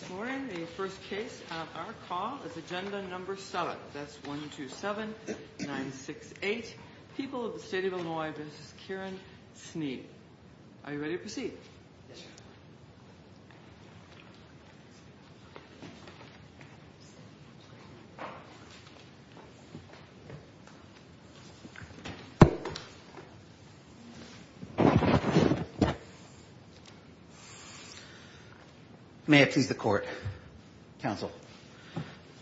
This morning, the first case on our call is Agenda No. 7. That's 127-968, People of the State of Illinois v. Kieran Sneed. Are you ready to proceed? May it please the Court, Counsel.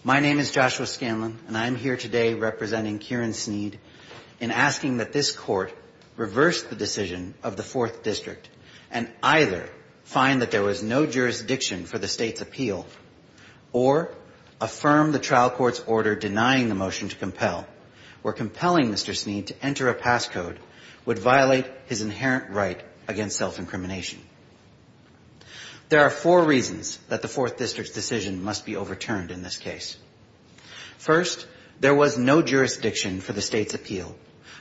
My name is Joshua Scanlon, and I am here today representing Kieran Sneed in asking that this Court reverse the decision of the 4th District and either find that there was no jurisdiction for the State's appeal or affirm the trial court's order denying the motion to compel, or compelling Mr. Sneed to enter a pass code, would violate his inherent right against self-incrimination. There are four reasons that the 4th District's decision must be overturned in this case. First, there was no jurisdiction for the State's appeal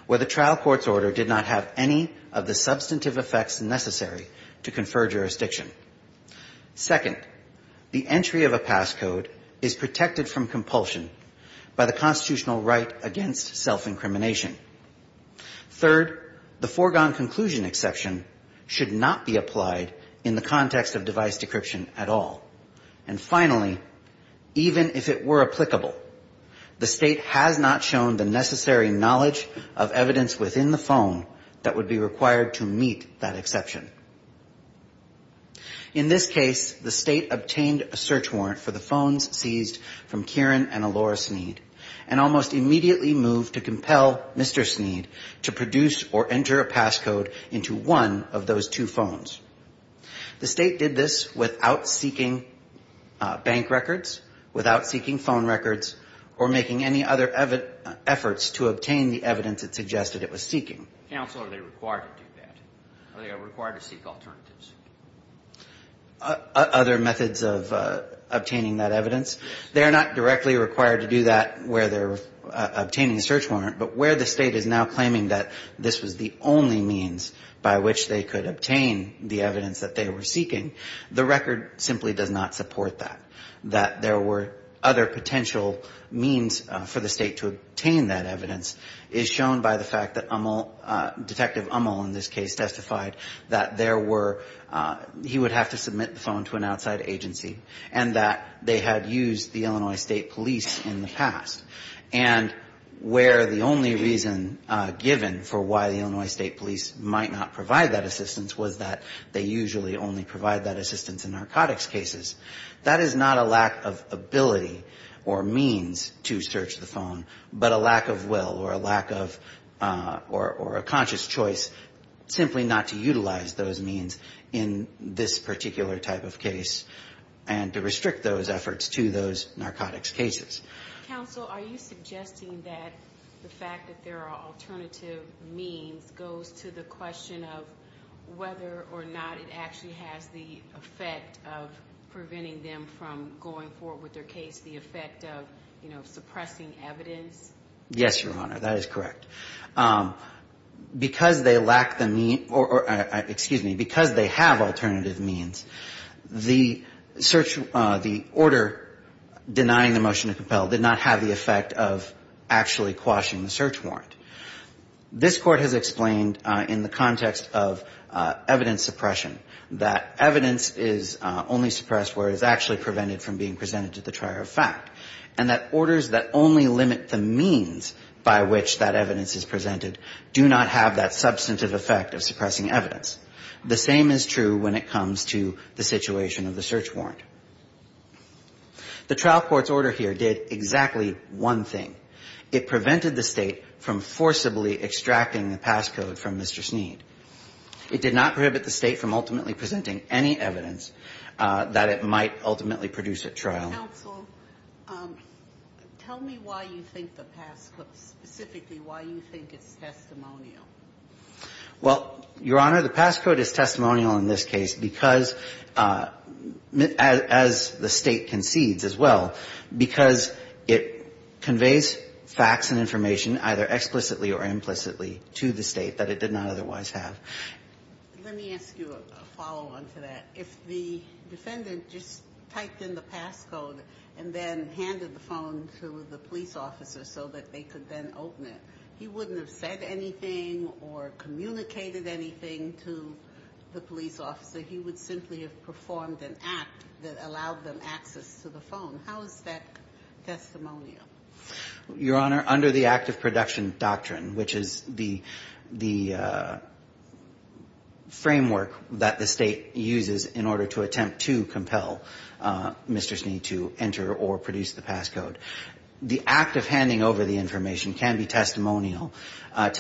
where the trial court's order did not have any of the substantive effects necessary to confer jurisdiction. Second, the entry of a pass code is protected from compulsion by the constitutional right against self-incrimination. Third, the foregone conclusion exception should not be applied in the context of device decryption at all. And finally, even if it were applicable, the State has not shown the necessary knowledge of evidence within the phone that would be required to meet that exception. In this case, the State obtained a search warrant for the phones seized from Kieran and Elora Sneed and almost immediately moved to compel Mr. Sneed to produce or enter a pass code into one of those two phones. The State did this without seeking bank records, without seeking phone records, or making any other efforts to obtain the evidence it suggested it was seeking. Counsel, are they required to do that? Are they required to seek alternatives? Other methods of obtaining that evidence? They are not directly required to do that where they're obtaining a search warrant, but where the State is now claiming that this was the only means by which they could obtain the evidence that they were seeking, the record simply does not support that. That there were other potential means for the State to obtain that evidence is shown by the fact that Uml, Detective Uml in this case testified that there were, he would have to submit the phone to an outside agency and that they had used the Illinois State Police in the past. And where the only reason given for why the Illinois State Police might not provide that assistance was that they usually only provide that assistance in narcotics cases. That is not a lack of ability or means to search the phone, but a lack of will or a lack of, or a conscious choice simply not to utilize those means in this particular type of case and to restrict those efforts to those narcotics cases. Counsel, are you suggesting that the fact that there are alternative means goes to the question of whether or not it actually has the effect of preventing them from going forward with their case, the effect of, you know, suppressing evidence? Yes, Your Honor, that is correct. Because they lack the means, or excuse me, because they have alternative means, the search, the order denying the motion to compel did not have the effect of actually quashing the search warrant. This Court has explained in the context of evidence suppression that evidence is only suppressed where it is actually prevented from being presented to the trier of fact. And that orders that only limit the means by which that evidence is presented do not have that substantive effect of suppressing evidence. The same is true when it comes to the situation of the search warrant. The trial court's order here did exactly one thing. It prevented the State from forcibly extracting the pass code from Mr. Sneed. It did not prohibit the State from ultimately presenting any evidence that it might ultimately produce at trial. Counsel, tell me why you think the pass code, specifically why you think it's testimonial. Well, Your Honor, the pass code is testimonial in this case because, as the State concedes as well, because it conveys facts and information either explicitly or implicitly to the State that it did not otherwise have. Let me ask you a follow-on to that. If the defendant just typed in the pass code and then handed the phone to the police officer so that they could then open it, he wouldn't have said anything or communicated anything to the police officer. He would simply have performed an act that allowed them access to the phone. How is that testimonial? Your Honor, under the act of production doctrine, which is the framework that the State uses in order to attempt to compel Mr. Sneed to enter or produce the pass code, the act of handing over the information can be testimonial. But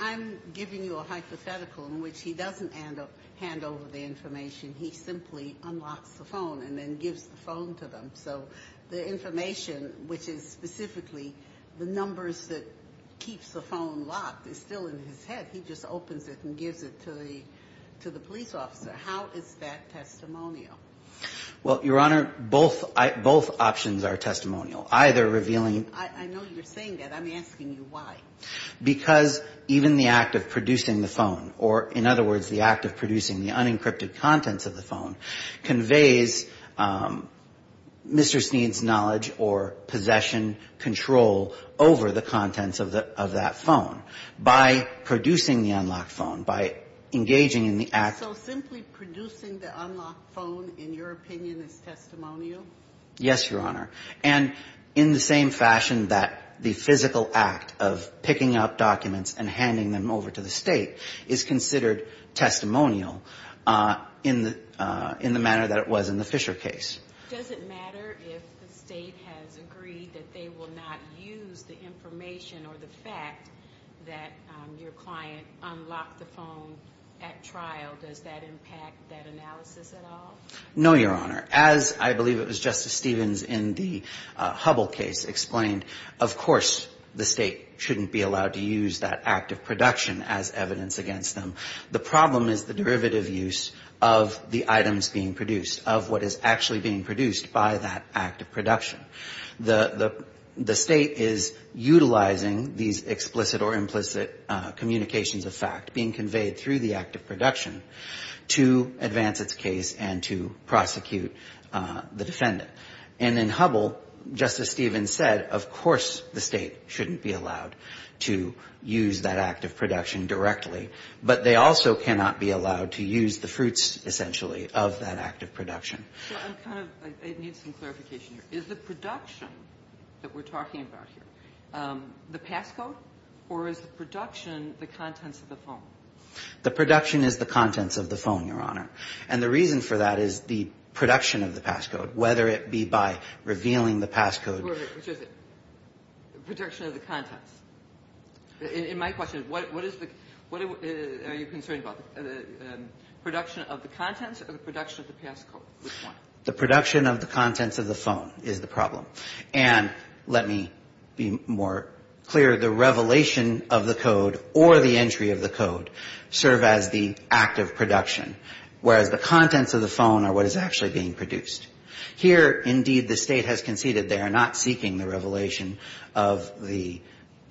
I'm giving you a hypothetical in which he doesn't hand over the information. He simply unlocks the phone and then gives the phone to them. So the information, which is specifically the numbers that keeps the phone locked, is still in his head. He just opens it and gives it to the police officer. How is that testimonial? Well, Your Honor, both options are testimonial. I know you're saying that. I'm asking you why. Because even the act of producing the phone, or, in other words, the act of producing the unencrypted contents of the phone, conveys Mr. Sneed's knowledge or possession, control over the contents of that phone. By producing the unlocked phone, by engaging in the act. So simply producing the unlocked phone, in your opinion, is testimonial? Yes, Your Honor. And in the same fashion that the physical act of picking up documents and handing them over to the State is considered testimonial in the manner that it was in the Fisher case. Does it matter if the State has agreed that they will not use the information or the fact that your client unlocked the phone at trial? Does that impact that analysis at all? No, Your Honor. As I believe it was Justice Stevens in the Hubble case explained, of course the State shouldn't be allowed to use that act of production as evidence against them. The problem is the derivative use of the items being produced, of what is actually being produced by that act of production. The State is utilizing these explicit or implicit communications of fact being conveyed through the act of production to advance its case and to prosecute the defendant. And in Hubble, Justice Stevens said, of course the State shouldn't be allowed to use that act of production directly. But they also cannot be allowed to use the fruits, essentially, of that act of production. I need some clarification here. Is the production that we're talking about here the passcode or is the production the contents of the phone? The production is the contents of the phone, Your Honor. And the reason for that is the production of the passcode, whether it be by revealing the passcode. Which is it? The production of the contents. In my question, what are you concerned about? The production of the contents or the production of the passcode? Which one? The production of the contents of the phone is the problem. And let me be more clear. The revelation of the code or the entry of the code serve as the act of production. Whereas the contents of the phone are what is actually being produced. Here, indeed, the State has conceded they are not seeking the revelation of the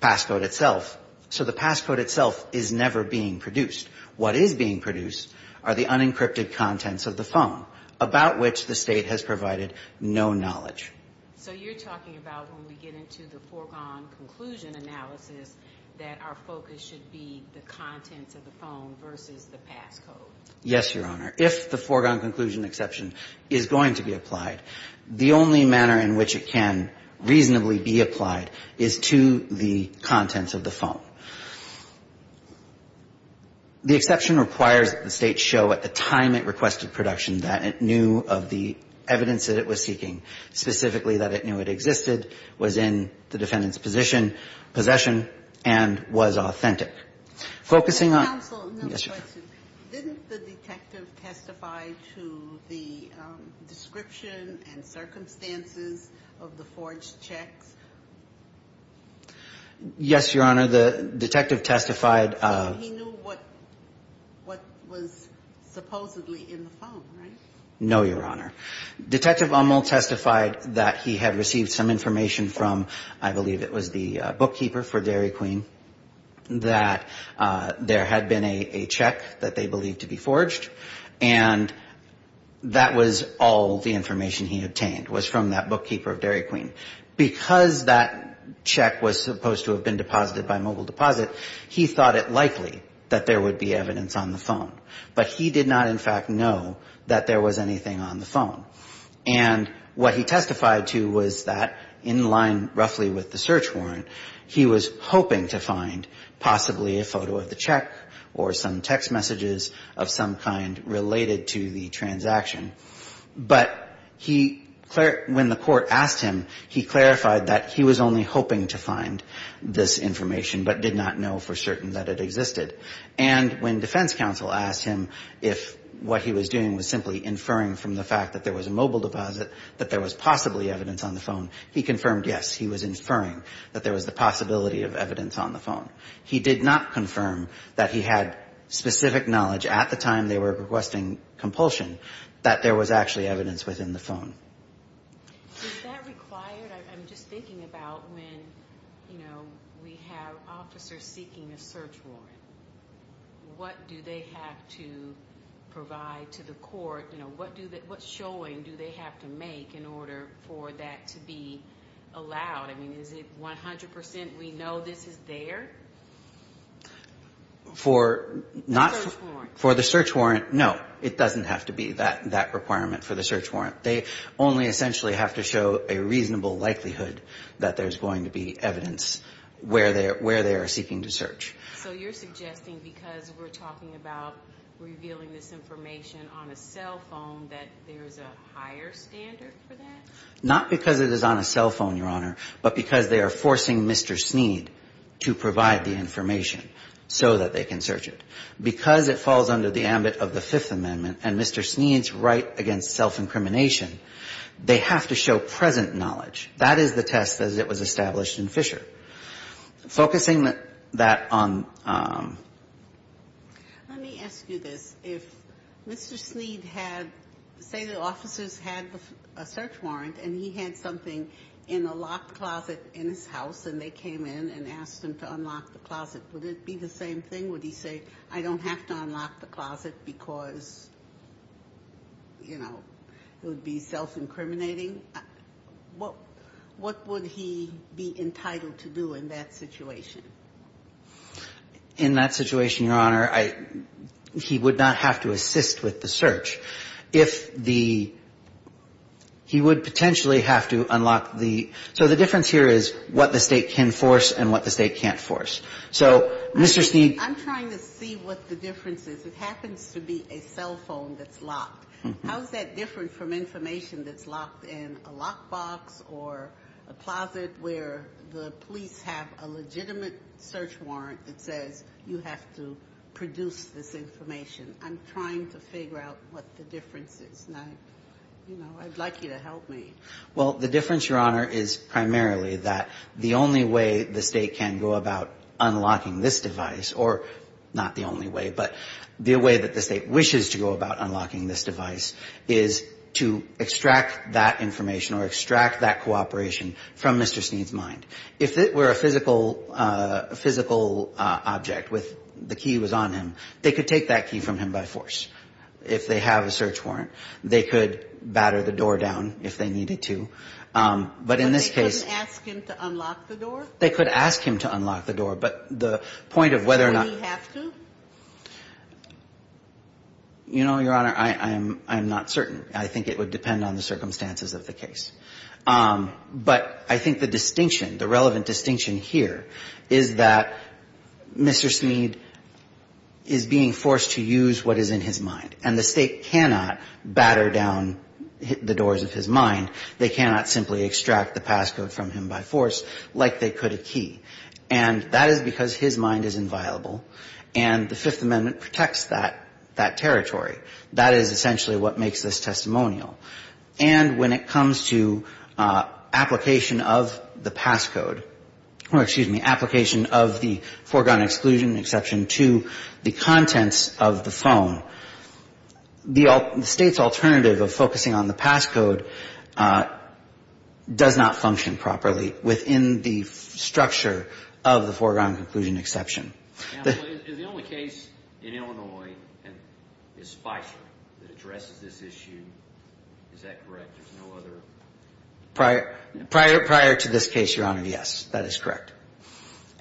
passcode itself. So the passcode itself is never being produced. What is being produced are the unencrypted contents of the phone, about which the State has provided no knowledge. So you're talking about when we get into the foregone conclusion analysis that our focus should be the contents of the phone versus the passcode? Yes, Your Honor. If the foregone conclusion exception is going to be applied, the only manner in which it can reasonably be applied is to the contents of the phone. The exception requires that the State show at the time it requested production that it knew of the evidence that it was seeking, specifically that it knew it existed, was in the defendant's position, possession, and was authentic. Focusing on the question, didn't the detective testify to the description and circumstances of the forged checks? Yes, Your Honor. The detective testified. He knew what was supposedly in the phone, right? No, Your Honor. Detective Ummel testified that he had received some information from, I believe it was the bookkeeper for Dairy Queen, that there had been a check that they believed to be forged. And that was all the information he obtained was from that bookkeeper of Dairy Queen. Because that check was supposed to have been deposited by mobile deposit, he thought it likely that there would be evidence on the phone. But he did not, in fact, know that there was anything on the phone. And what he testified to was that, in line roughly with the search warrant, he was hoping to find possibly a photo of the check or some text messages of some kind related to the transaction. But when the court asked him, he clarified that he was only hoping to find this information, but did not know for certain that it existed. And when defense counsel asked him if what he was doing was simply inferring from the fact that there was a mobile deposit, that there was possibly evidence on the phone, he confirmed, yes, he was inferring that there was the possibility of evidence on the phone. He did not confirm that he had specific knowledge at the time they were requesting compulsion that there was actually evidence within the phone. Is that required? I'm just thinking about when, you know, we have officers seeking a search warrant. What do they have to provide to the court? You know, what showing do they have to make in order for that to be allowed? I mean, is it 100% we know this is there? For the search warrant, no. It doesn't have to be that requirement for the search warrant. They only essentially have to show a reasonable likelihood that there's going to be evidence where they are seeking to search. So you're suggesting because we're talking about revealing this information on a cell phone that there's a higher standard for that? Not because it is on a cell phone, Your Honor, but because they are forcing Mr. Sneed to provide the information so that they can search it. Because it falls under the ambit of the Fifth Amendment and Mr. Sneed's right against self-incrimination, they have to show present knowledge. That is the test as it was established in Fisher. Focusing that on... Let me ask you this. If Mr. Sneed had, say the officers had a search warrant and he had something in a locked closet in his house and they came in and asked him to unlock the closet, would it be the same thing? Would he say, I don't have to unlock the closet because, you know, it would be self-incriminating? What would he be entitled to do in that situation? In that situation, Your Honor, he would not have to assist with the search. If the he would potentially have to unlock the so the difference here is what the State can force and what the State can't force. So Mr. Sneed... I'm trying to see what the difference is. It happens to be a cell phone that's locked. How is that different from information that's locked in a lockbox or a closet where the police have a legitimate search warrant that says you have to produce this information? I'm trying to figure out what the difference is and I'd like you to help me. Well, the difference, Your Honor, is primarily that the only way the State can go about unlocking this device or not the only way but the way that the State wishes to go about unlocking this device is to extract that information or extract that cooperation from Mr. Sneed's mind. If it were a physical object with the key was on him, they could take that key from him by force. If they have a search warrant, they could batter the door down if they needed to. But in this case... But they couldn't ask him to unlock the door? They could ask him to unlock the door, but the point of whether or not... Would he have to? You know, Your Honor, I'm not certain. I think it would depend on the circumstances of the case. But I think the distinction, the relevant distinction here is that Mr. Sneed is being forced to use what is in his mind. And the State cannot batter down the doors of his mind. They cannot simply extract the passcode from him by force like they could a key. And that is because his mind is inviolable. And the Fifth Amendment protects that territory. That is essentially what makes this testimonial. And when it comes to application of the passcode or, excuse me, application of the foregone exclusion, exception to the contents of the phone, the State's alternative of focusing on the passcode does not function properly within the structure of the foregone conclusion exception. Is the only case in Illinois is Spicer that addresses this issue? Is that correct? There's no other? Prior to this case, Your Honor, yes, that is correct.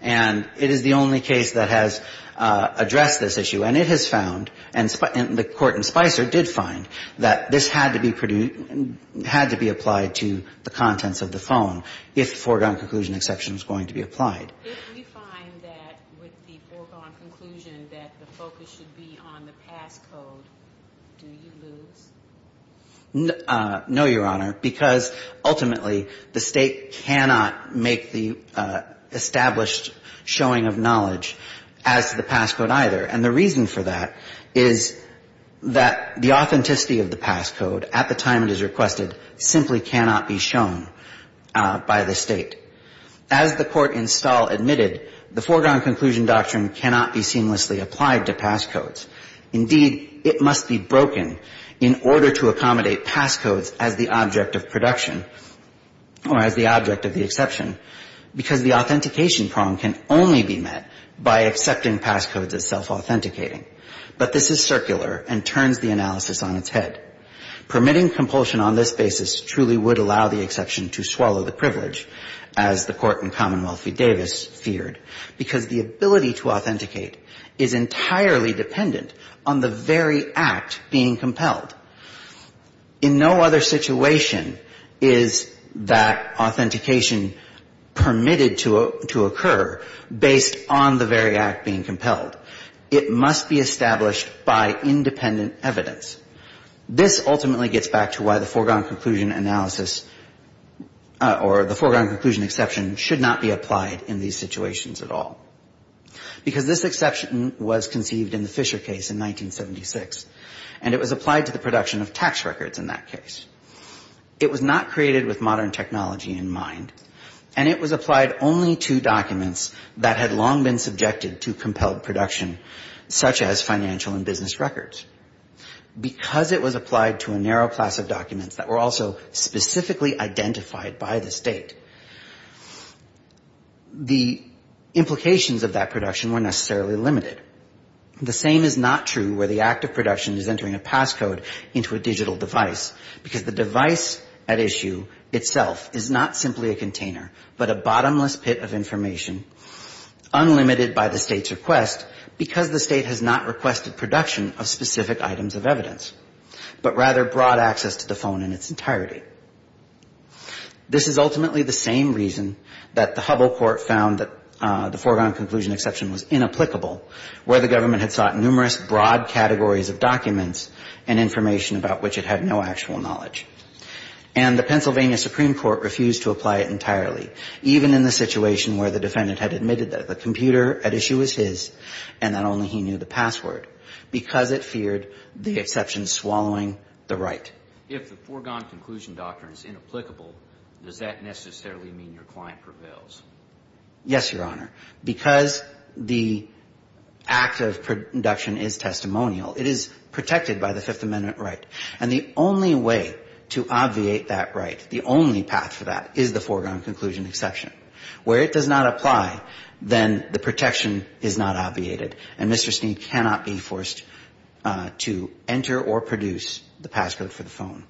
And it is the only case that has addressed this issue. And it has found, and the Court in Spicer did find, that this had to be applied to the contents of the phone if the foregone conclusion exception is going to be applied. If you find that with the foregone conclusion that the focus should be on the passcode, do you lose? No, Your Honor, because ultimately the State cannot make the established showing of knowledge as to the passcode either. And the reason for that is that the authenticity of the passcode at the time it is requested simply cannot be shown by the State. As the Court in Stahl admitted, the foregone conclusion doctrine cannot be seamlessly applied to passcodes. Indeed, it must be broken in order to accommodate passcodes as the object of production or as the object of the exception, because the authentication prong can only be met by accepting passcodes as self-authenticating. But this is circular and turns the analysis on its head. Permitting compulsion on this basis truly would allow the exception to swallow the privilege, as the Court in Commonwealth v. Davis feared, because the ability to authenticate is entirely dependent on the very act being compelled. In no other situation is that authentication permitted to occur based on the very act being compelled. It must be established by independent evidence. This ultimately gets back to why the foregone conclusion analysis or the foregone because this exception was conceived in the Fisher case in 1976, and it was applied to the production of tax records in that case. It was not created with modern technology in mind, and it was applied only to documents that had long been subjected to compelled production, such as financial and business records. Because it was applied to a narrow class of documents that were also specifically identified by the state. The implications of that production were necessarily limited. The same is not true where the act of production is entering a passcode into a digital device, because the device at issue itself is not simply a container, but a bottomless pit of information, unlimited by the state's request, because the state has not requested production of specific items of evidence, but rather broad access to the phone in its entirety. This is ultimately the same reason that the Hubble Court found that the foregone conclusion exception was inapplicable, where the government had sought numerous broad categories of documents and information about which it had no actual knowledge. And the Pennsylvania Supreme Court refused to apply it entirely, even in the situation where the defendant had admitted that the computer at issue was his, and not only he inapplicable, does that necessarily mean your client prevails? Yes, Your Honor. Because the act of production is testimonial, it is protected by the Fifth Amendment right. And the only way to obviate that right, the only path for that is the foregone conclusion exception. Where it does not apply, then the protection is not obviated, and Mr. Sneed cannot be forced to enter or produce the passcode for the phone.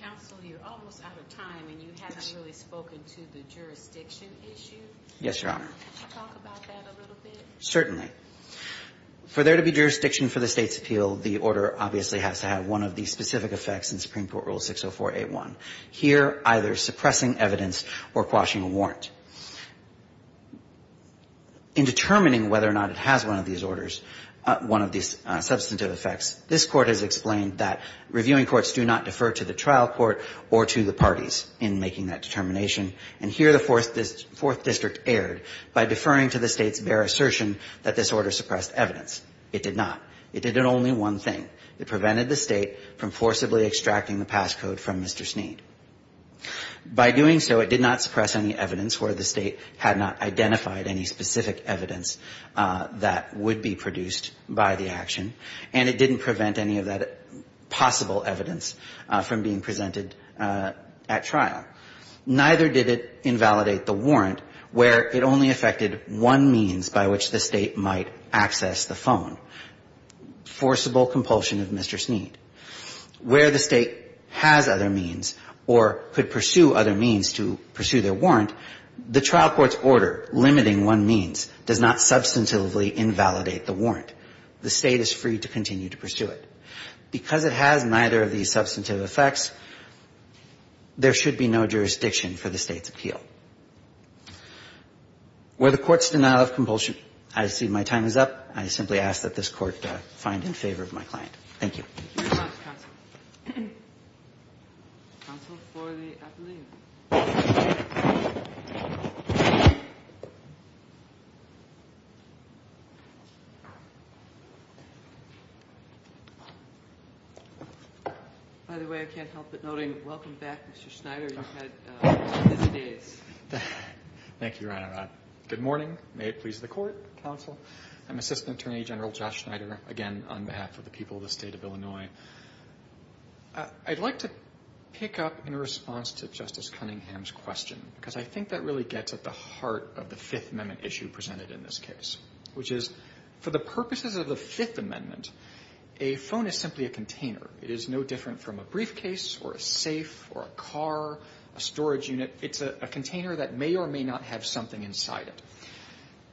Counsel, you're almost out of time, and you haven't really spoken to the jurisdiction issue. Yes, Your Honor. Can you talk about that a little bit? Certainly. For there to be jurisdiction for the state's appeal, the order obviously has to have one of the specific effects in Supreme Court Rule 60481. Here, either suppressing evidence or quashing a warrant. In determining whether or not it has one of these orders, one of these substantive effects, this Court has explained that reviewing courts do not defer to the trial court or to the parties in making that determination. And here the Fourth District erred by deferring to the State's bare assertion that this order suppressed evidence. It did not. It did only one thing. It prevented the State from forcibly extracting the passcode from Mr. Sneed. By doing so, it did not suppress any evidence where the State had not identified any specific evidence that would be produced by the action. And it didn't prevent any of that possible evidence from being presented at trial. Neither did it invalidate the warrant where it only affected one means by which the State might access the phone, forcible compulsion of Mr. Sneed. Where the State has other means or could pursue other means to pursue their warrant, the trial court's order limiting one means does not substantively invalidate the warrant. The State is free to continue to pursue it. Because it has neither of these substantive effects, there should be no jurisdiction for the State's appeal. Where the Court's denial of compulsion, I see my time is up. I simply ask that this Court find in favor of my client. Thank you. Thank you very much, Counsel. Counsel for the appeal. By the way, I can't help but noting, welcome back, Mr. Schneider. You've had busy days. Thank you, Your Honor. Good morning. May it please the Court, Counsel. I'm Assistant Attorney General Josh Schneider, again, on behalf of the people of the State of Illinois. I'd like to pick up in response to Justice Cunningham's question, because I think that really gets at the heart of the Fifth Amendment issue presented in this case, which is for the purposes of the Fifth Amendment, a phone is simply a container. It is no different from a briefcase or a safe or a car, a storage unit. It's a container that may or may not have something inside it.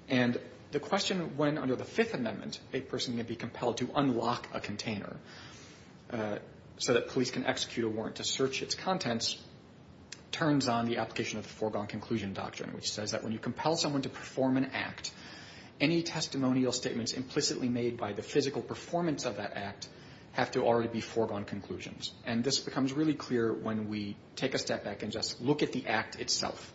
And the question when, under the Fifth Amendment, a person can be compelled to unlock a container so that police can execute a warrant to search its contents turns on the application of the foregone conclusion doctrine, which says that when you compel someone to perform an act, any testimonial statements implicitly made by the physical performance of that act have to already be foregone conclusions. And this becomes really clear when we take a step back and just look at the act itself,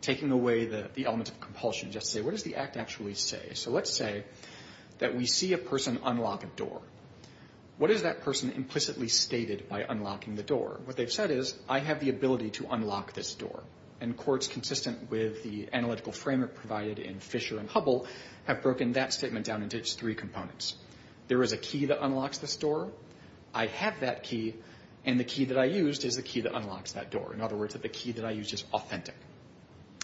taking away the element of compulsion. Just say, what does the act actually say? So let's say that we see a person unlock a door. What is that person implicitly stated by unlocking the door? What they've said is, I have the ability to unlock this door. And courts, consistent with the analytical framework provided in Fisher and Hubble, have broken that statement down into its three components. There is a key that unlocks this door. I have that key. And the key that I used is the key that unlocks that door. In other words, the key that I used is authentic.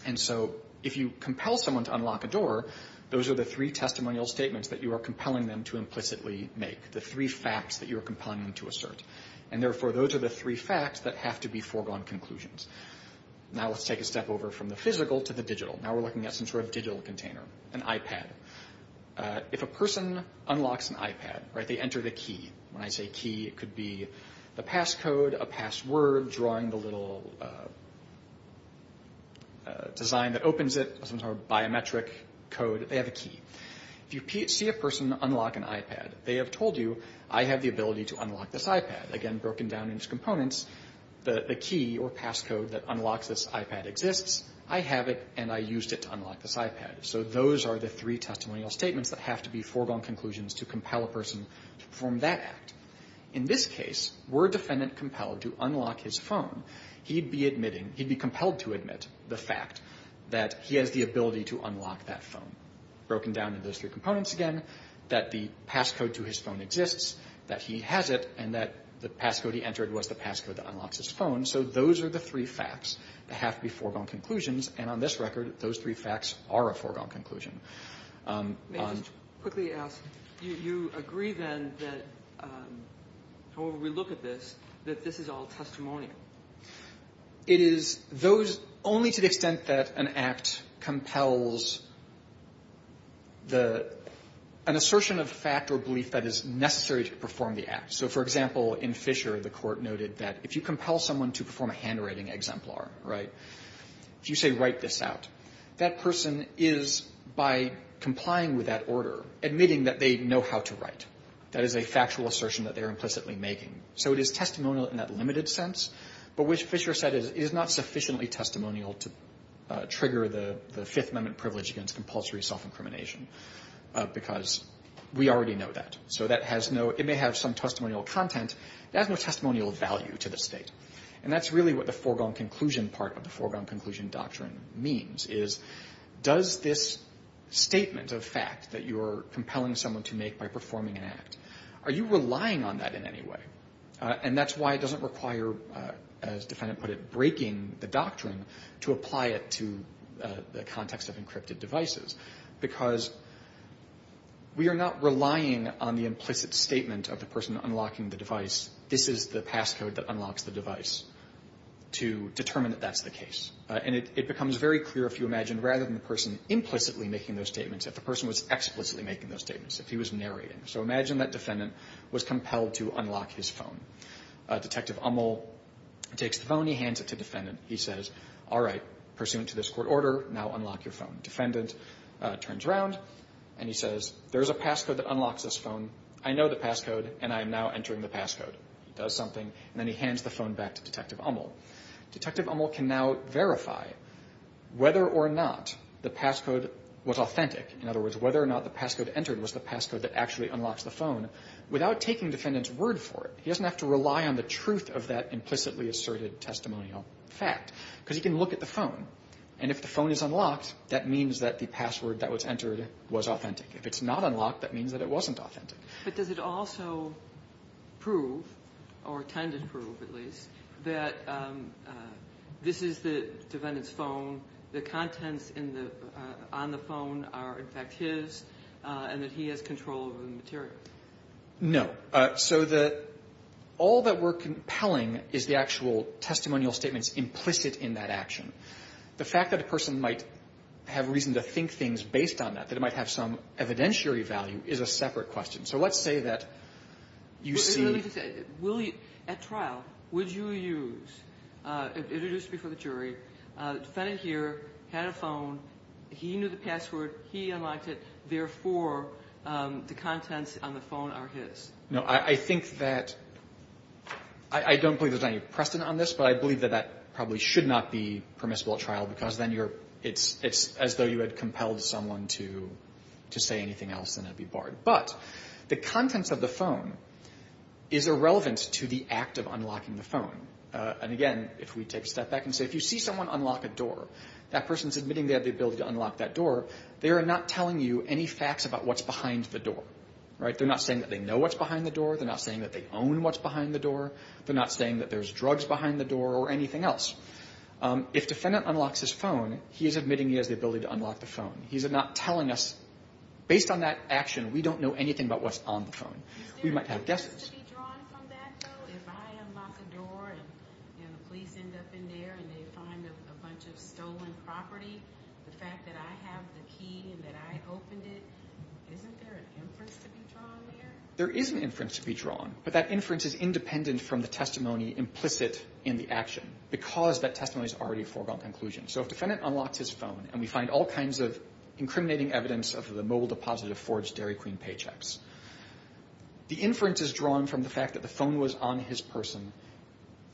And so if you compel someone to unlock a door, those are the three testimonial statements that you are compelling them to implicitly make, the three facts that you are compelling them to assert. And therefore, those are the three facts that have to be foregone conclusions. Now let's take a step over from the physical to the digital. Now we're looking at some sort of digital container, an iPad. If a person unlocks an iPad, they enter the key. When I say key, it could be the passcode, a password, drawing the little design that opens it, some sort of biometric code. They have a key. If you see a person unlock an iPad, they have told you, I have the ability to unlock this iPad. Again, broken down into components, the key or passcode that unlocks this iPad exists. I have it, and I used it to unlock this iPad. So those are the three testimonial statements that have to be foregone conclusions to compel a person to perform that act. In this case, were a defendant compelled to unlock his phone, he'd be admitting, he'd be compelled to admit the fact that he has the ability to unlock that phone. Broken down into those three components again, that the passcode to his phone exists, that he has it, and that the passcode he entered was the passcode that unlocks his phone. So those are the three facts that have to be foregone conclusions. And on this record, those three facts are a foregone conclusion. May I just quickly ask, you agree then that, however we look at this, that this is all testimonial? It is only to the extent that an act compels an assertion of fact or belief that is necessary to perform the act. So, for example, in Fisher, the court noted that if you compel someone to perform a handwriting exemplar, right, if you say write this out, that person is, by complying with that order, admitting that they know how to write. That is a factual assertion that they are implicitly making. So it is testimonial in that limited sense, but which Fisher said is not sufficiently testimonial to trigger the Fifth Amendment privilege against compulsory self-incrimination, because we already know that. So that has no, it may have some testimonial content, it has no testimonial value to the state. And that is really what the foregone conclusion part of the foregone conclusion doctrine means, is does this statement of fact that you are compelling someone to make by performing an act, are you relying on that in any way? And that is why it doesn't require, as the defendant put it, breaking the doctrine to apply it to the context of encrypted devices, because we are not relying on the implicit statement of the person unlocking the device, this is the passcode that unlocks the device, to determine that that is the case. And it becomes very clear, if you imagine, rather than the person implicitly making those statements, if the person was explicitly making those statements, if he was narrating. So imagine that defendant was compelled to unlock his phone. Detective Ummel takes the phone, he hands it to defendant, he says, all right, pursuant to this court order, now unlock your phone. Defendant turns around and he says, there is a passcode that unlocks this phone, I know the passcode and I am now entering the passcode. He does something and then he hands the phone back to Detective Ummel. Detective Ummel can now verify whether or not the passcode was authentic, in other words, whether or not the passcode entered was the passcode that actually unlocks the phone, without taking defendant's word for it. He doesn't have to rely on the truth of that implicitly asserted testimonial fact, because he can look at the phone. And if the phone is unlocked, that means that the password that was entered was authentic. If it's not unlocked, that means that it wasn't authentic. But does it also prove, or tend to prove at least, that this is the defendant's phone, the contents on the phone are in fact his, and that he has control over the material? No. So all that we're compelling is the actual testimonial statements implicit in that action. The fact that a person might have reason to think things based on that, that it might have some evidentiary value, is a separate question. So let's say that you see at trial, would you use, introduced before the jury, defendant here had a phone, he knew the password, he unlocked it, therefore the contents on the phone are his. No, I think that, I don't believe there's any precedent on this, but I believe that that probably should not be permissible at trial, because then it's as though you had compelled someone to say anything else and it would be barred. But the contents of the phone is irrelevant to the act of unlocking the phone. And again, if we take a step back and say if you see someone unlock a door, that person is admitting they have the ability to unlock that door, right, they're not saying that they know what's behind the door, they're not saying that they own what's behind the door, they're not saying that there's drugs behind the door or anything else. If defendant unlocks his phone, he is admitting he has the ability to unlock the phone. He's not telling us, based on that action, we don't know anything about what's on the phone. We might have guesses. Is there evidence to be drawn from that, though? If I unlock a door and the police end up in there and they find a bunch of stolen property, the fact that I have the key and that I opened it, isn't there an inference to be drawn there? There is an inference to be drawn, but that inference is independent from the testimony implicit in the action, because that testimony is already a foregone conclusion. So if defendant unlocks his phone and we find all kinds of incriminating evidence of the mobile deposit of forged Dairy Queen paychecks, the inference is drawn from the fact that the phone was on his person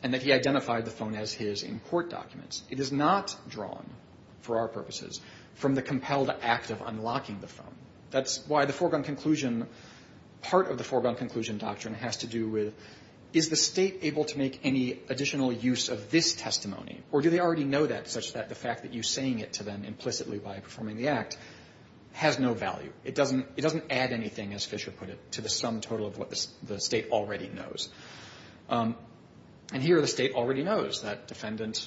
and that he identified the phone as his in court documents. It is not drawn, for our purposes, from the compelled act of unlocking the phone. That's why the foregone conclusion, part of the foregone conclusion doctrine, has to do with is the State able to make any additional use of this testimony, or do they already know that such that the fact that you're saying it to them implicitly by performing the act has no value. It doesn't add anything, as Fisher put it, to the sum total of what the State already knows. And here the State already knows that defendant,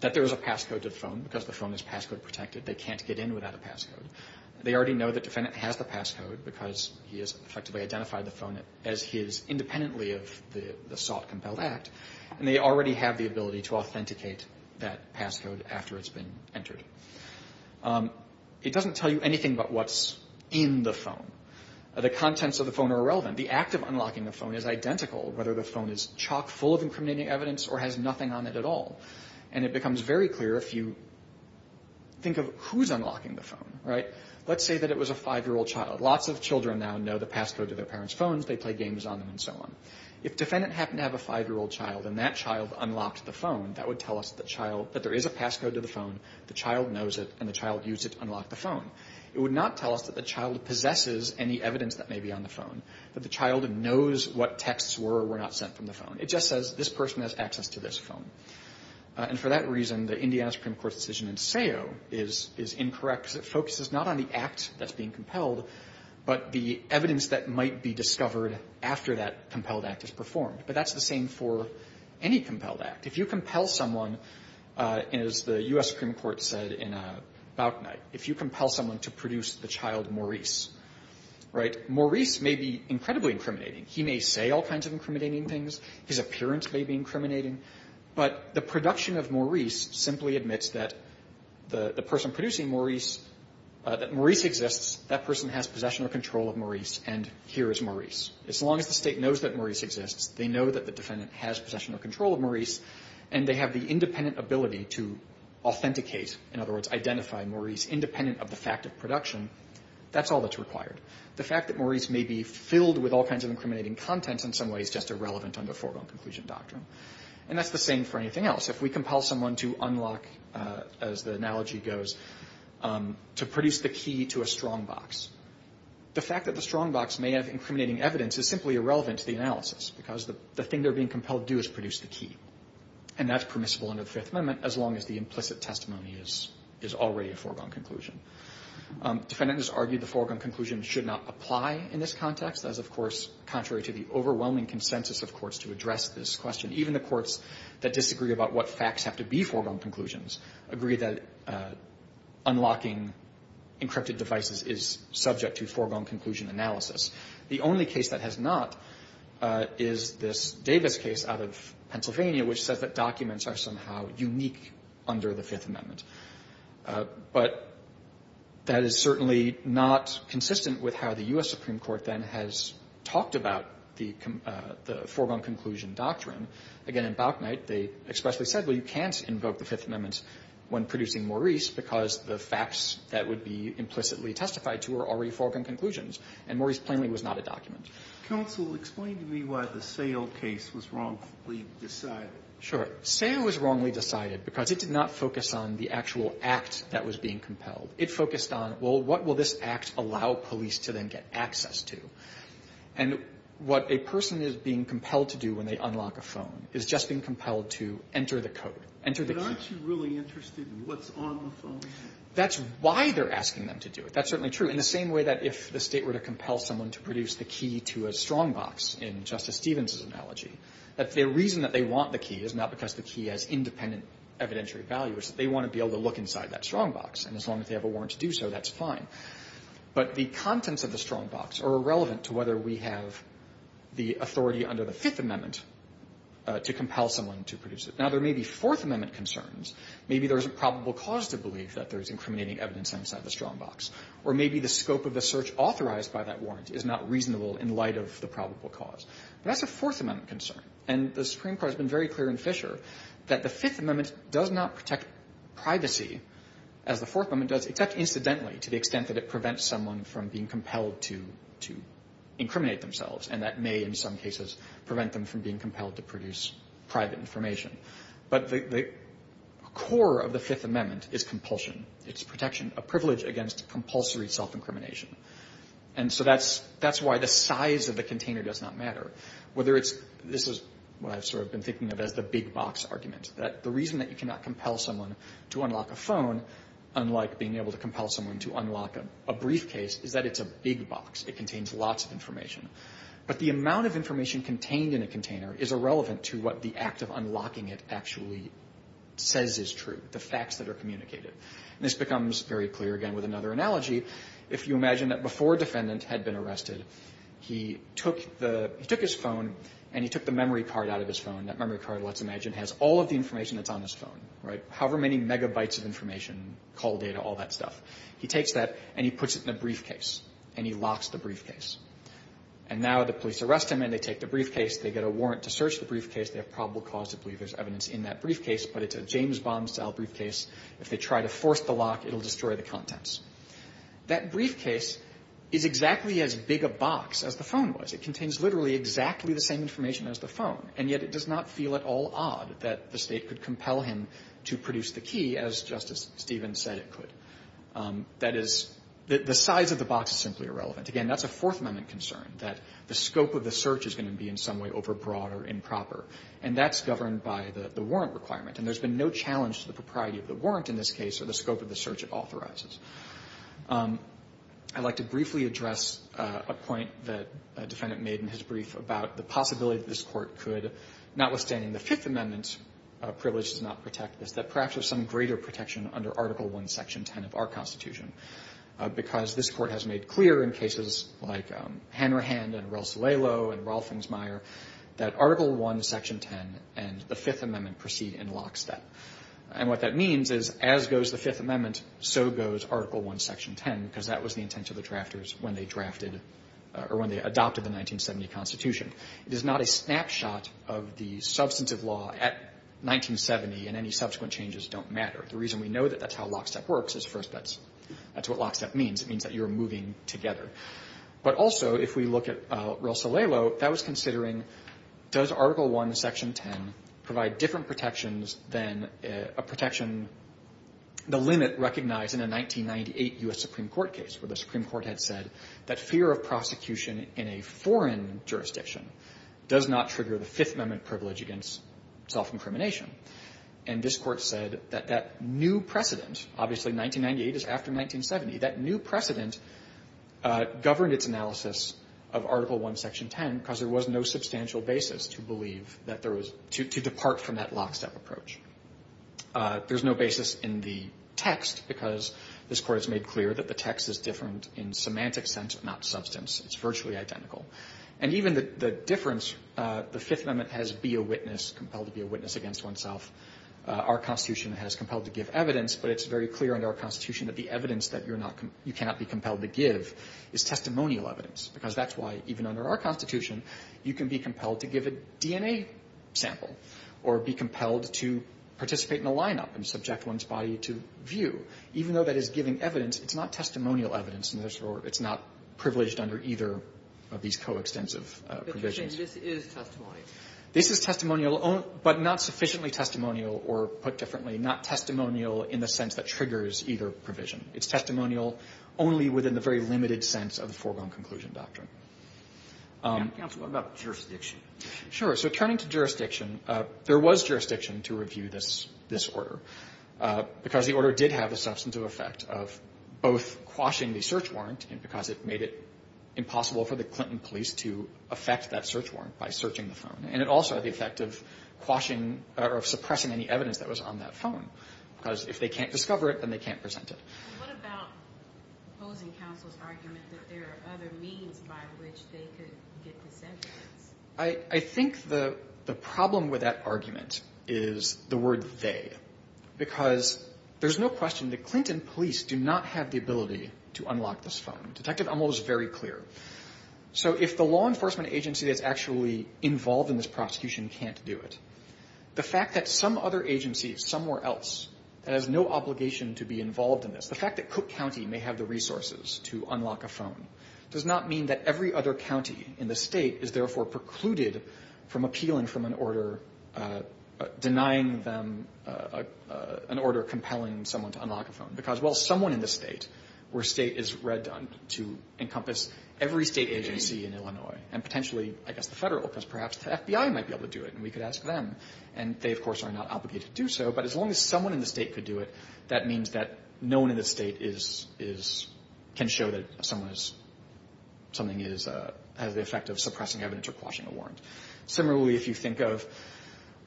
that there is a passcode to the phone because the phone is passcode protected. They can't get in without a passcode. They already know that defendant has the passcode because he has effectively identified the phone as his independently of the assault compelled act, and they already have the ability to authenticate that passcode after it's been entered. It doesn't tell you anything about what's in the phone. The contents of the phone are irrelevant. The act of unlocking the phone is identical, whether the phone is chock full of incriminating evidence or has nothing on it at all. And it becomes very clear if you think of who's unlocking the phone. Let's say that it was a five-year-old child. Lots of children now know the passcode to their parents' phones. They play games on them and so on. If defendant happened to have a five-year-old child and that child unlocked the phone, that would tell us that there is a passcode to the phone, the child knows it, and the child used it to unlock the phone. It would not tell us that the child possesses any evidence that may be on the phone, that the child knows what texts were or were not sent from the phone. It just says, this person has access to this phone. And for that reason, the Indiana Supreme Court decision in Sayo is incorrect because it focuses not on the act that's being compelled, but the evidence that might be discovered after that compelled act is performed. But that's the same for any compelled act. If you compel someone, as the U.S. Supreme Court said in a bout night, if you compel someone to produce the child Maurice, right, Maurice may be incredibly incriminating. He may say all kinds of incriminating things. His appearance may be incriminating. But the production of Maurice simply admits that the person producing Maurice, that Maurice exists, that person has possession or control of Maurice, and here is Maurice. As long as the State knows that Maurice exists, they know that the defendant has possession or control of Maurice, and they have the independent ability to authenticate, in other words, identify Maurice independent of the fact of production, that's all that's required. The fact that Maurice may be filled with all kinds of incriminating contents in some way is just irrelevant under foregone conclusion doctrine. And that's the same for anything else. If we compel someone to unlock, as the analogy goes, to produce the key to a strongbox, the fact that the strongbox may have incriminating evidence is simply irrelevant to the analysis because the thing they're being compelled to do is produce the key. And that's permissible under the Fifth Amendment, as long as the implicit testimony is already a foregone conclusion. Defendants argued the foregone conclusion should not apply in this context, as, of course, contrary to the overwhelming consensus of courts to address this question. Even the courts that disagree about what facts have to be foregone conclusions agree that unlocking encrypted devices is subject to foregone conclusion analysis. The only case that has not is this Davis case out of Pennsylvania, which says that documents are somehow unique under the Fifth Amendment. But that is certainly not consistent with how the U.S. Supreme Court then has talked about the foregone conclusion doctrine. Again, in Bauknecht, they expressly said, well, you can't invoke the Fifth Amendment when producing Maurice because the facts that would be implicitly testified to are already foregone conclusions. And Maurice plainly was not a document. Sotomayor, explain to me why the Sayle case was wrongfully decided. Sure. Sayle was wrongly decided because it did not focus on the actual act that was being compelled. It focused on, well, what will this act allow police to then get access to? And what a person is being compelled to do when they unlock a phone is just being compelled to enter the code, enter the key. But aren't you really interested in what's on the phone? That's why they're asking them to do it. That's certainly true. In the same way that if the State were to compel someone to produce the key to a strongbox, in Justice Stevens's analogy, that the reason that they want the key is not because the key has independent evidentiary value. It's that they want to be able to look inside that strongbox. And as long as they have a warrant to do so, that's fine. But the contents of the strongbox are irrelevant to whether we have the authority under the Fifth Amendment to compel someone to produce it. Now, there may be Fourth Amendment concerns. Maybe there's a probable cause to believe that there's incriminating evidence inside the strongbox. Or maybe the scope of the search authorized by that warrant is not reasonable in light of the probable cause. But that's a Fourth Amendment concern. And the Supreme Court has been very clear in Fisher that the Fifth Amendment does not protect privacy as the Fourth Amendment does, except incidentally to the extent that it prevents someone from being compelled to incriminate themselves, and that may in some cases prevent them from being compelled to produce private information. But the core of the Fifth Amendment is compulsion. It's protection. A privilege against compulsory self-incrimination. And so that's why the size of the container does not matter. This is what I've sort of been thinking of as the big box argument. The reason that you cannot compel someone to unlock a phone, unlike being able to compel someone to unlock a briefcase, is that it's a big box. It contains lots of information. But the amount of information contained in a container is irrelevant to what the act of unlocking it actually says is true, the facts that are communicated. And this becomes very clear, again, with another analogy. If you imagine that before a defendant had been arrested, he took his phone and he took the memory card out of his phone. That memory card, let's imagine, has all of the information that's on his phone. Right? However many megabytes of information, call data, all that stuff. He takes that and he puts it in a briefcase. And he locks the briefcase. And now the police arrest him and they take the briefcase. They get a warrant to search the briefcase. They have probable cause to believe there's evidence in that briefcase. But it's a James Bond-style briefcase. If they try to force the lock, it'll destroy the contents. That briefcase is exactly as big a box as the phone was. It contains literally exactly the same information as the phone. And yet it does not feel at all odd that the State could compel him to produce the key as Justice Stevens said it could. That is, the size of the box is simply irrelevant. Again, that's a Fourth Amendment concern, that the scope of the search is going to be in some way overbroad or improper. And that's governed by the warrant requirement. And there's been no challenge to the propriety of the warrant in this case or the scope of the search it authorizes. I'd like to briefly address a point that a defendant made in his brief about the possibility that this Court could, notwithstanding the Fifth Amendment's privilege to not protect this, that perhaps there's some greater protection under Article I, Section 10 of our Constitution, because this Court has made clear in cases like Hanrahan and Rossello and Rolfingsmeier that Article I, Section 10 and the Fifth Amendment proceed in lockstep. And what that means is, as goes the Fifth Amendment, so goes Article I, Section 10, because that was the intent of the drafters when they drafted or when they adopted the 1970 Constitution. It is not a snapshot of the substantive law at 1970, and any subsequent changes don't matter. The reason we know that that's how lockstep works is, first, that's what lockstep means. It means that you're moving together. But also, if we look at Rossello, that was considering, does Article I, Section 10, provide different protections than a protection, the limit recognized in a 1998 U.S. Supreme Court case, where the Supreme Court had said that fear of prosecution in a foreign jurisdiction does not trigger the Fifth Amendment privilege against self-incrimination. And this Court said that that new precedent, obviously 1998 is after 1970, that new precedent governed its analysis of Article I, Section 10 because there was no substantial basis to believe that there was to depart from that lockstep approach. There's no basis in the text because this Court has made clear that the text is different in semantic sense, not substance. It's virtually identical. And even the difference, the Fifth Amendment has be a witness, compelled to be a witness against oneself. Our Constitution has compelled to give evidence, but it's very clear under our Constitution that the evidence that you're not, you cannot be compelled to give is testimonial evidence, because that's why, even under our Constitution, you can be compelled to give a DNA sample or be compelled to participate in a lineup and subject one's body to view. Even though that is giving evidence, it's not testimonial evidence in this Court. It's not privileged under either of these coextensive provisions. But you're saying this is testimony? This is testimonial, but not sufficiently testimonial or, put differently, not testimonial in the sense that triggers either provision. It's testimonial only within the very limited sense of the foregone conclusion doctrine. Counsel, what about jurisdiction? Sure. So turning to jurisdiction, there was jurisdiction to review this order because the order did have the substantive effect of both quashing the search warrant and because it made it impossible for the Clinton police to affect that search phone. And it also had the effect of quashing or suppressing any evidence that was on that phone. Because if they can't discover it, then they can't present it. What about opposing counsel's argument that there are other means by which they could get this evidence? I think the problem with that argument is the word they. Because there's no question that Clinton police do not have the ability to unlock this phone. Detective Ummel was very clear. So if the law enforcement agency that's actually involved in this prosecution can't do it, the fact that some other agency somewhere else that has no obligation to be involved in this, the fact that Cook County may have the resources to unlock a phone does not mean that every other county in the state is therefore precluded from appealing from an order denying them an order compelling someone to unlock a phone. Because while someone in the state, where state is redundant to encompass every state agency in Illinois and potentially, I guess, the federal, because perhaps the FBI might be able to do it and we could ask them. And they, of course, are not obligated to do so. But as long as someone in the state could do it, that means that no one in the state can show that something has the effect of suppressing evidence or quashing a warrant. Similarly, if you think of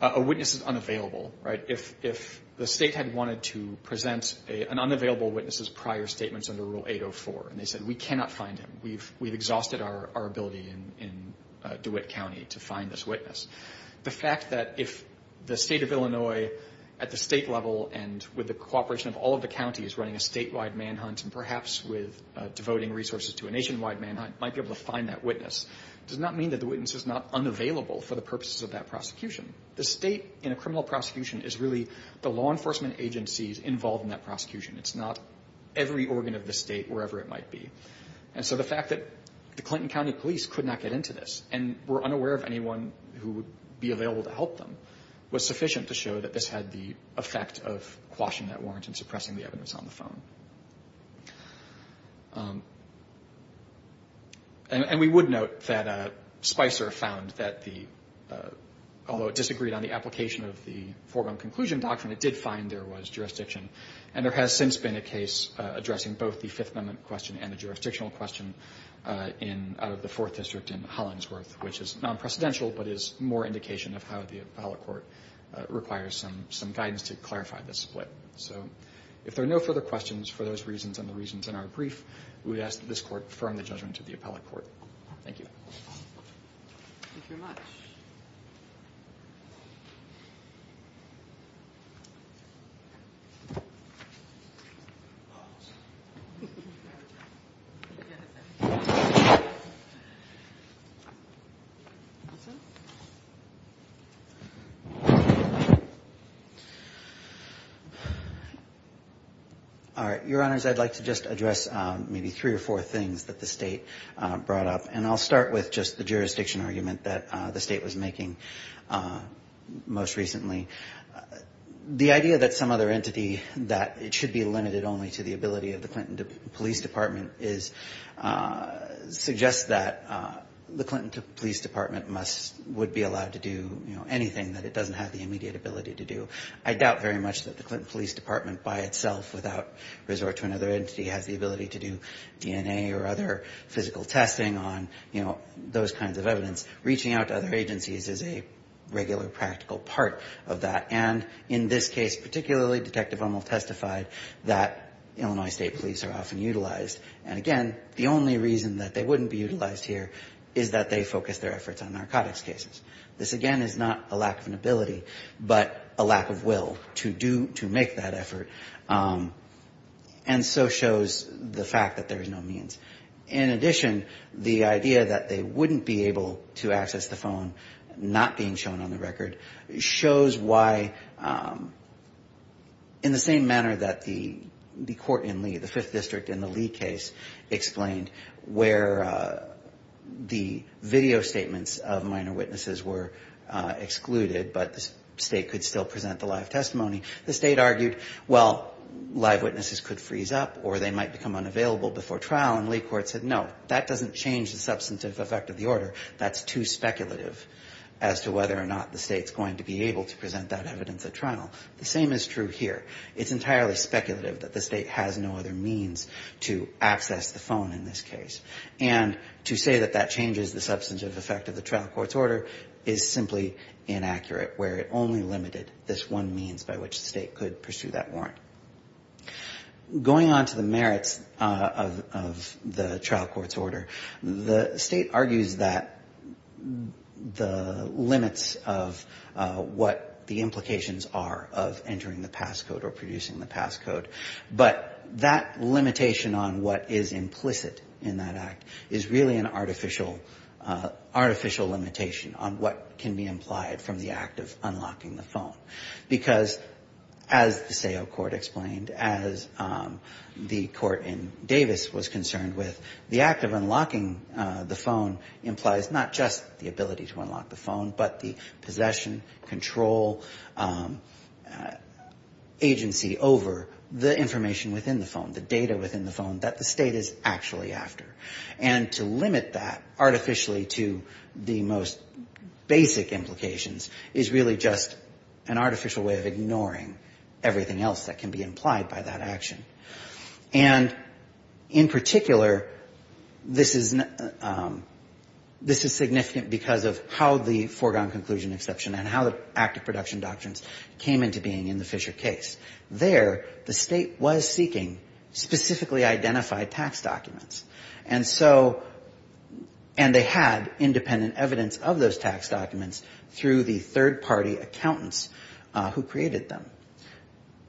a witness is unavailable, right? An unavailable witness is prior statements under Rule 804. And they said, we cannot find him. We've exhausted our ability in DeWitt County to find this witness. The fact that if the state of Illinois at the state level and with the cooperation of all of the counties running a statewide manhunt and perhaps with devoting resources to a nationwide manhunt might be able to find that witness does not mean that the witness is not unavailable for the purposes of that prosecution. The state in a criminal prosecution is really the law enforcement agencies involved in that prosecution. It's not every organ of the state wherever it might be. And so the fact that the Clinton County Police could not get into this and were unaware of anyone who would be available to help them was sufficient to show that this had the effect of quashing that warrant and suppressing the evidence on the phone. And we would note that Spicer found that the, although it disagreed on the application of the foregone conclusion doctrine, it did find there was jurisdiction. And there has since been a case addressing both the Fifth Amendment question and the jurisdictional question in, out of the Fourth District in Hollingsworth, which is non-precedential but is more indication of how the appellate court requires some guidance to clarify this split. So if there are no further questions for those reasons and the reasons in our brief, we ask that this Court affirm the judgment of the appellate court. Thank you. Thank you very much. All right. Your Honors, I'd like to just address maybe three or four things that the state brought up. And I'll start with just the jurisdiction argument that the state was making most recently. The idea that some other entity that it should be limited only to the ability of the Clinton Police Department suggests that the Clinton Police Department must, would be allowed to do, you know, anything that it doesn't have the immediate ability to do. I doubt very much that the Clinton Police Department by itself without resort to another entity has the ability to do DNA or other physical testing on, you know, those kinds of evidence. Reaching out to other agencies is a regular practical part of that. And in this case particularly, Detective Uml testified that Illinois State Police are often utilized. And, again, the only reason that they wouldn't be utilized here is that they focus their efforts on narcotics cases. This, again, is not a lack of an ability but a lack of will to do, to make that effort. And so shows the fact that there is no means. In addition, the idea that they wouldn't be able to access the phone not being shown on the record shows why in the same manner that the court in Lee, the Fifth District in the Lee case, explained where the video statements of minor witnesses were excluded but the state could still present the live testimony. The state argued, well, live witnesses could freeze up or they might become unavailable before trial. And Lee court said, no, that doesn't change the substantive effect of the order. That's too speculative as to whether or not the state's going to be able to present that evidence at trial. The same is true here. It's entirely speculative that the state has no other means to access the phone in this case. And to say that that changes the substantive effect of the trial court's order is simply inaccurate where it only limited this one means by which the state could pursue that warrant. Going on to the merits of the trial court's order, the state argues that the limits of what the implications are of entering the pass code or producing the pass code, but that limitation on what is implicit in that act is really an artificial limitation on what can be implied from the act of unlocking the phone. Because as the Seo court explained, as the court in Davis was concerned with, the act of unlocking the phone implies not just the ability to unlock the phone, but the possession, control, agency over the information within the phone, the data within the phone that the state is actually after. And to limit that artificially to the most basic implications is really just an artificial way of ignoring everything else that can be implied by that action. And in particular, this is significant because of how the foregone conclusion exception and how the act of production doctrines came into being in the Fisher case. There, the state was seeking specifically identified tax documents, and they had independent evidence of those tax documents through the third-party accountants who created them.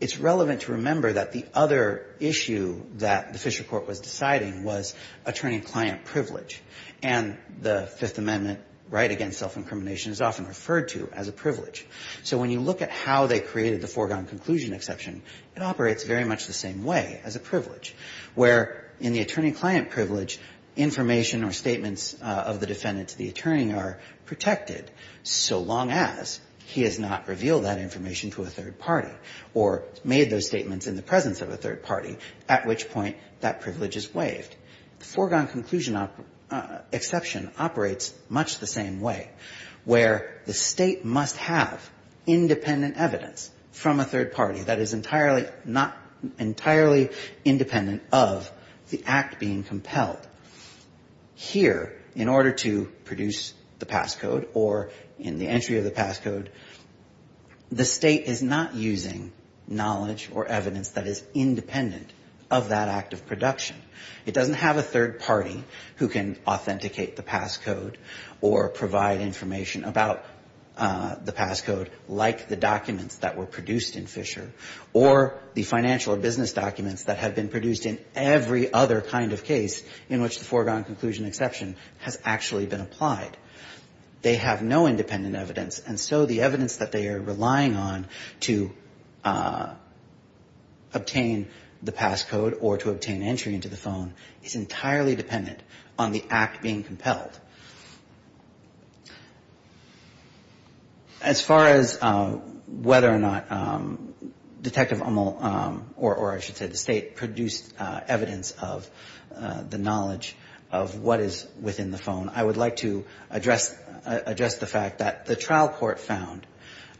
It's relevant to remember that the other issue that the Fisher court was deciding was attorney-client privilege, and the Fifth Amendment right against self-incrimination is often referred to as a privilege. So when you look at how they created the foregone conclusion exception, it operates very much the same way as a privilege, where in the attorney-client privilege, information or statements of the defendant to the attorney are protected so long as he has not revealed that information to a third party or made those statements in the presence of a third party, at which point that privilege is waived. The foregone conclusion exception operates much the same way, where the State must have independent evidence from a third party that is not entirely independent of the act being compelled. Here, in order to produce the passcode or in the entry of the passcode, the State is not using knowledge or evidence that is independent of that act of production. It doesn't have a third party who can authenticate the passcode or provide information about the passcode, like the documents that were produced in Fisher or the financial or business documents that have been produced in every other kind of case in which the foregone conclusion exception has actually been applied. They have no independent evidence, and so the evidence that they are relying on to obtain the passcode or to obtain entry into the phone is entirely dependent on the act being compelled. As far as whether or not Detective Amol or, I should say, the State produced evidence of the knowledge of what is within the phone, I would like to address the fact that the trial court found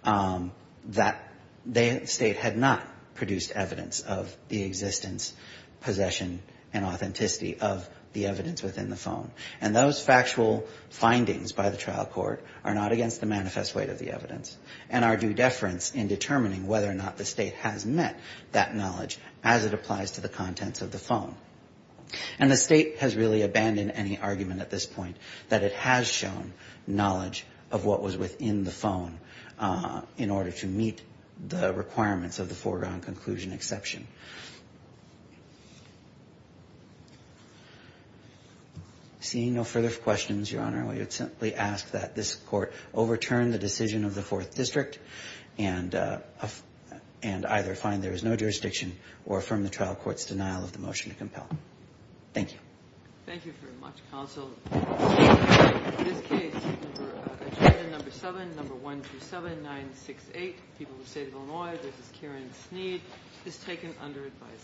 that the State had not produced evidence of the existence, possession, and authenticity of the evidence within the phone. And those factual findings by the trial court are not against the manifest weight of the evidence and are due deference in determining whether or not the State has met that knowledge as it applies to the contents of the phone. And the State has really abandoned any argument at this point that it has shown knowledge of what was within the phone in order to meet the requirements of the foregone conclusion exception. Seeing no further questions, Your Honor, I would simply ask that this Court overturn the decision of the Fourth District and either find there is no jurisdiction or affirm the trial court's denial of the motion to compel. Thank you. Thank you very much, Counsel. In this case, number seven, number one through seven, nine, six, eight, people of the State of Illinois, this is Karen Sneed, is taken under advisory.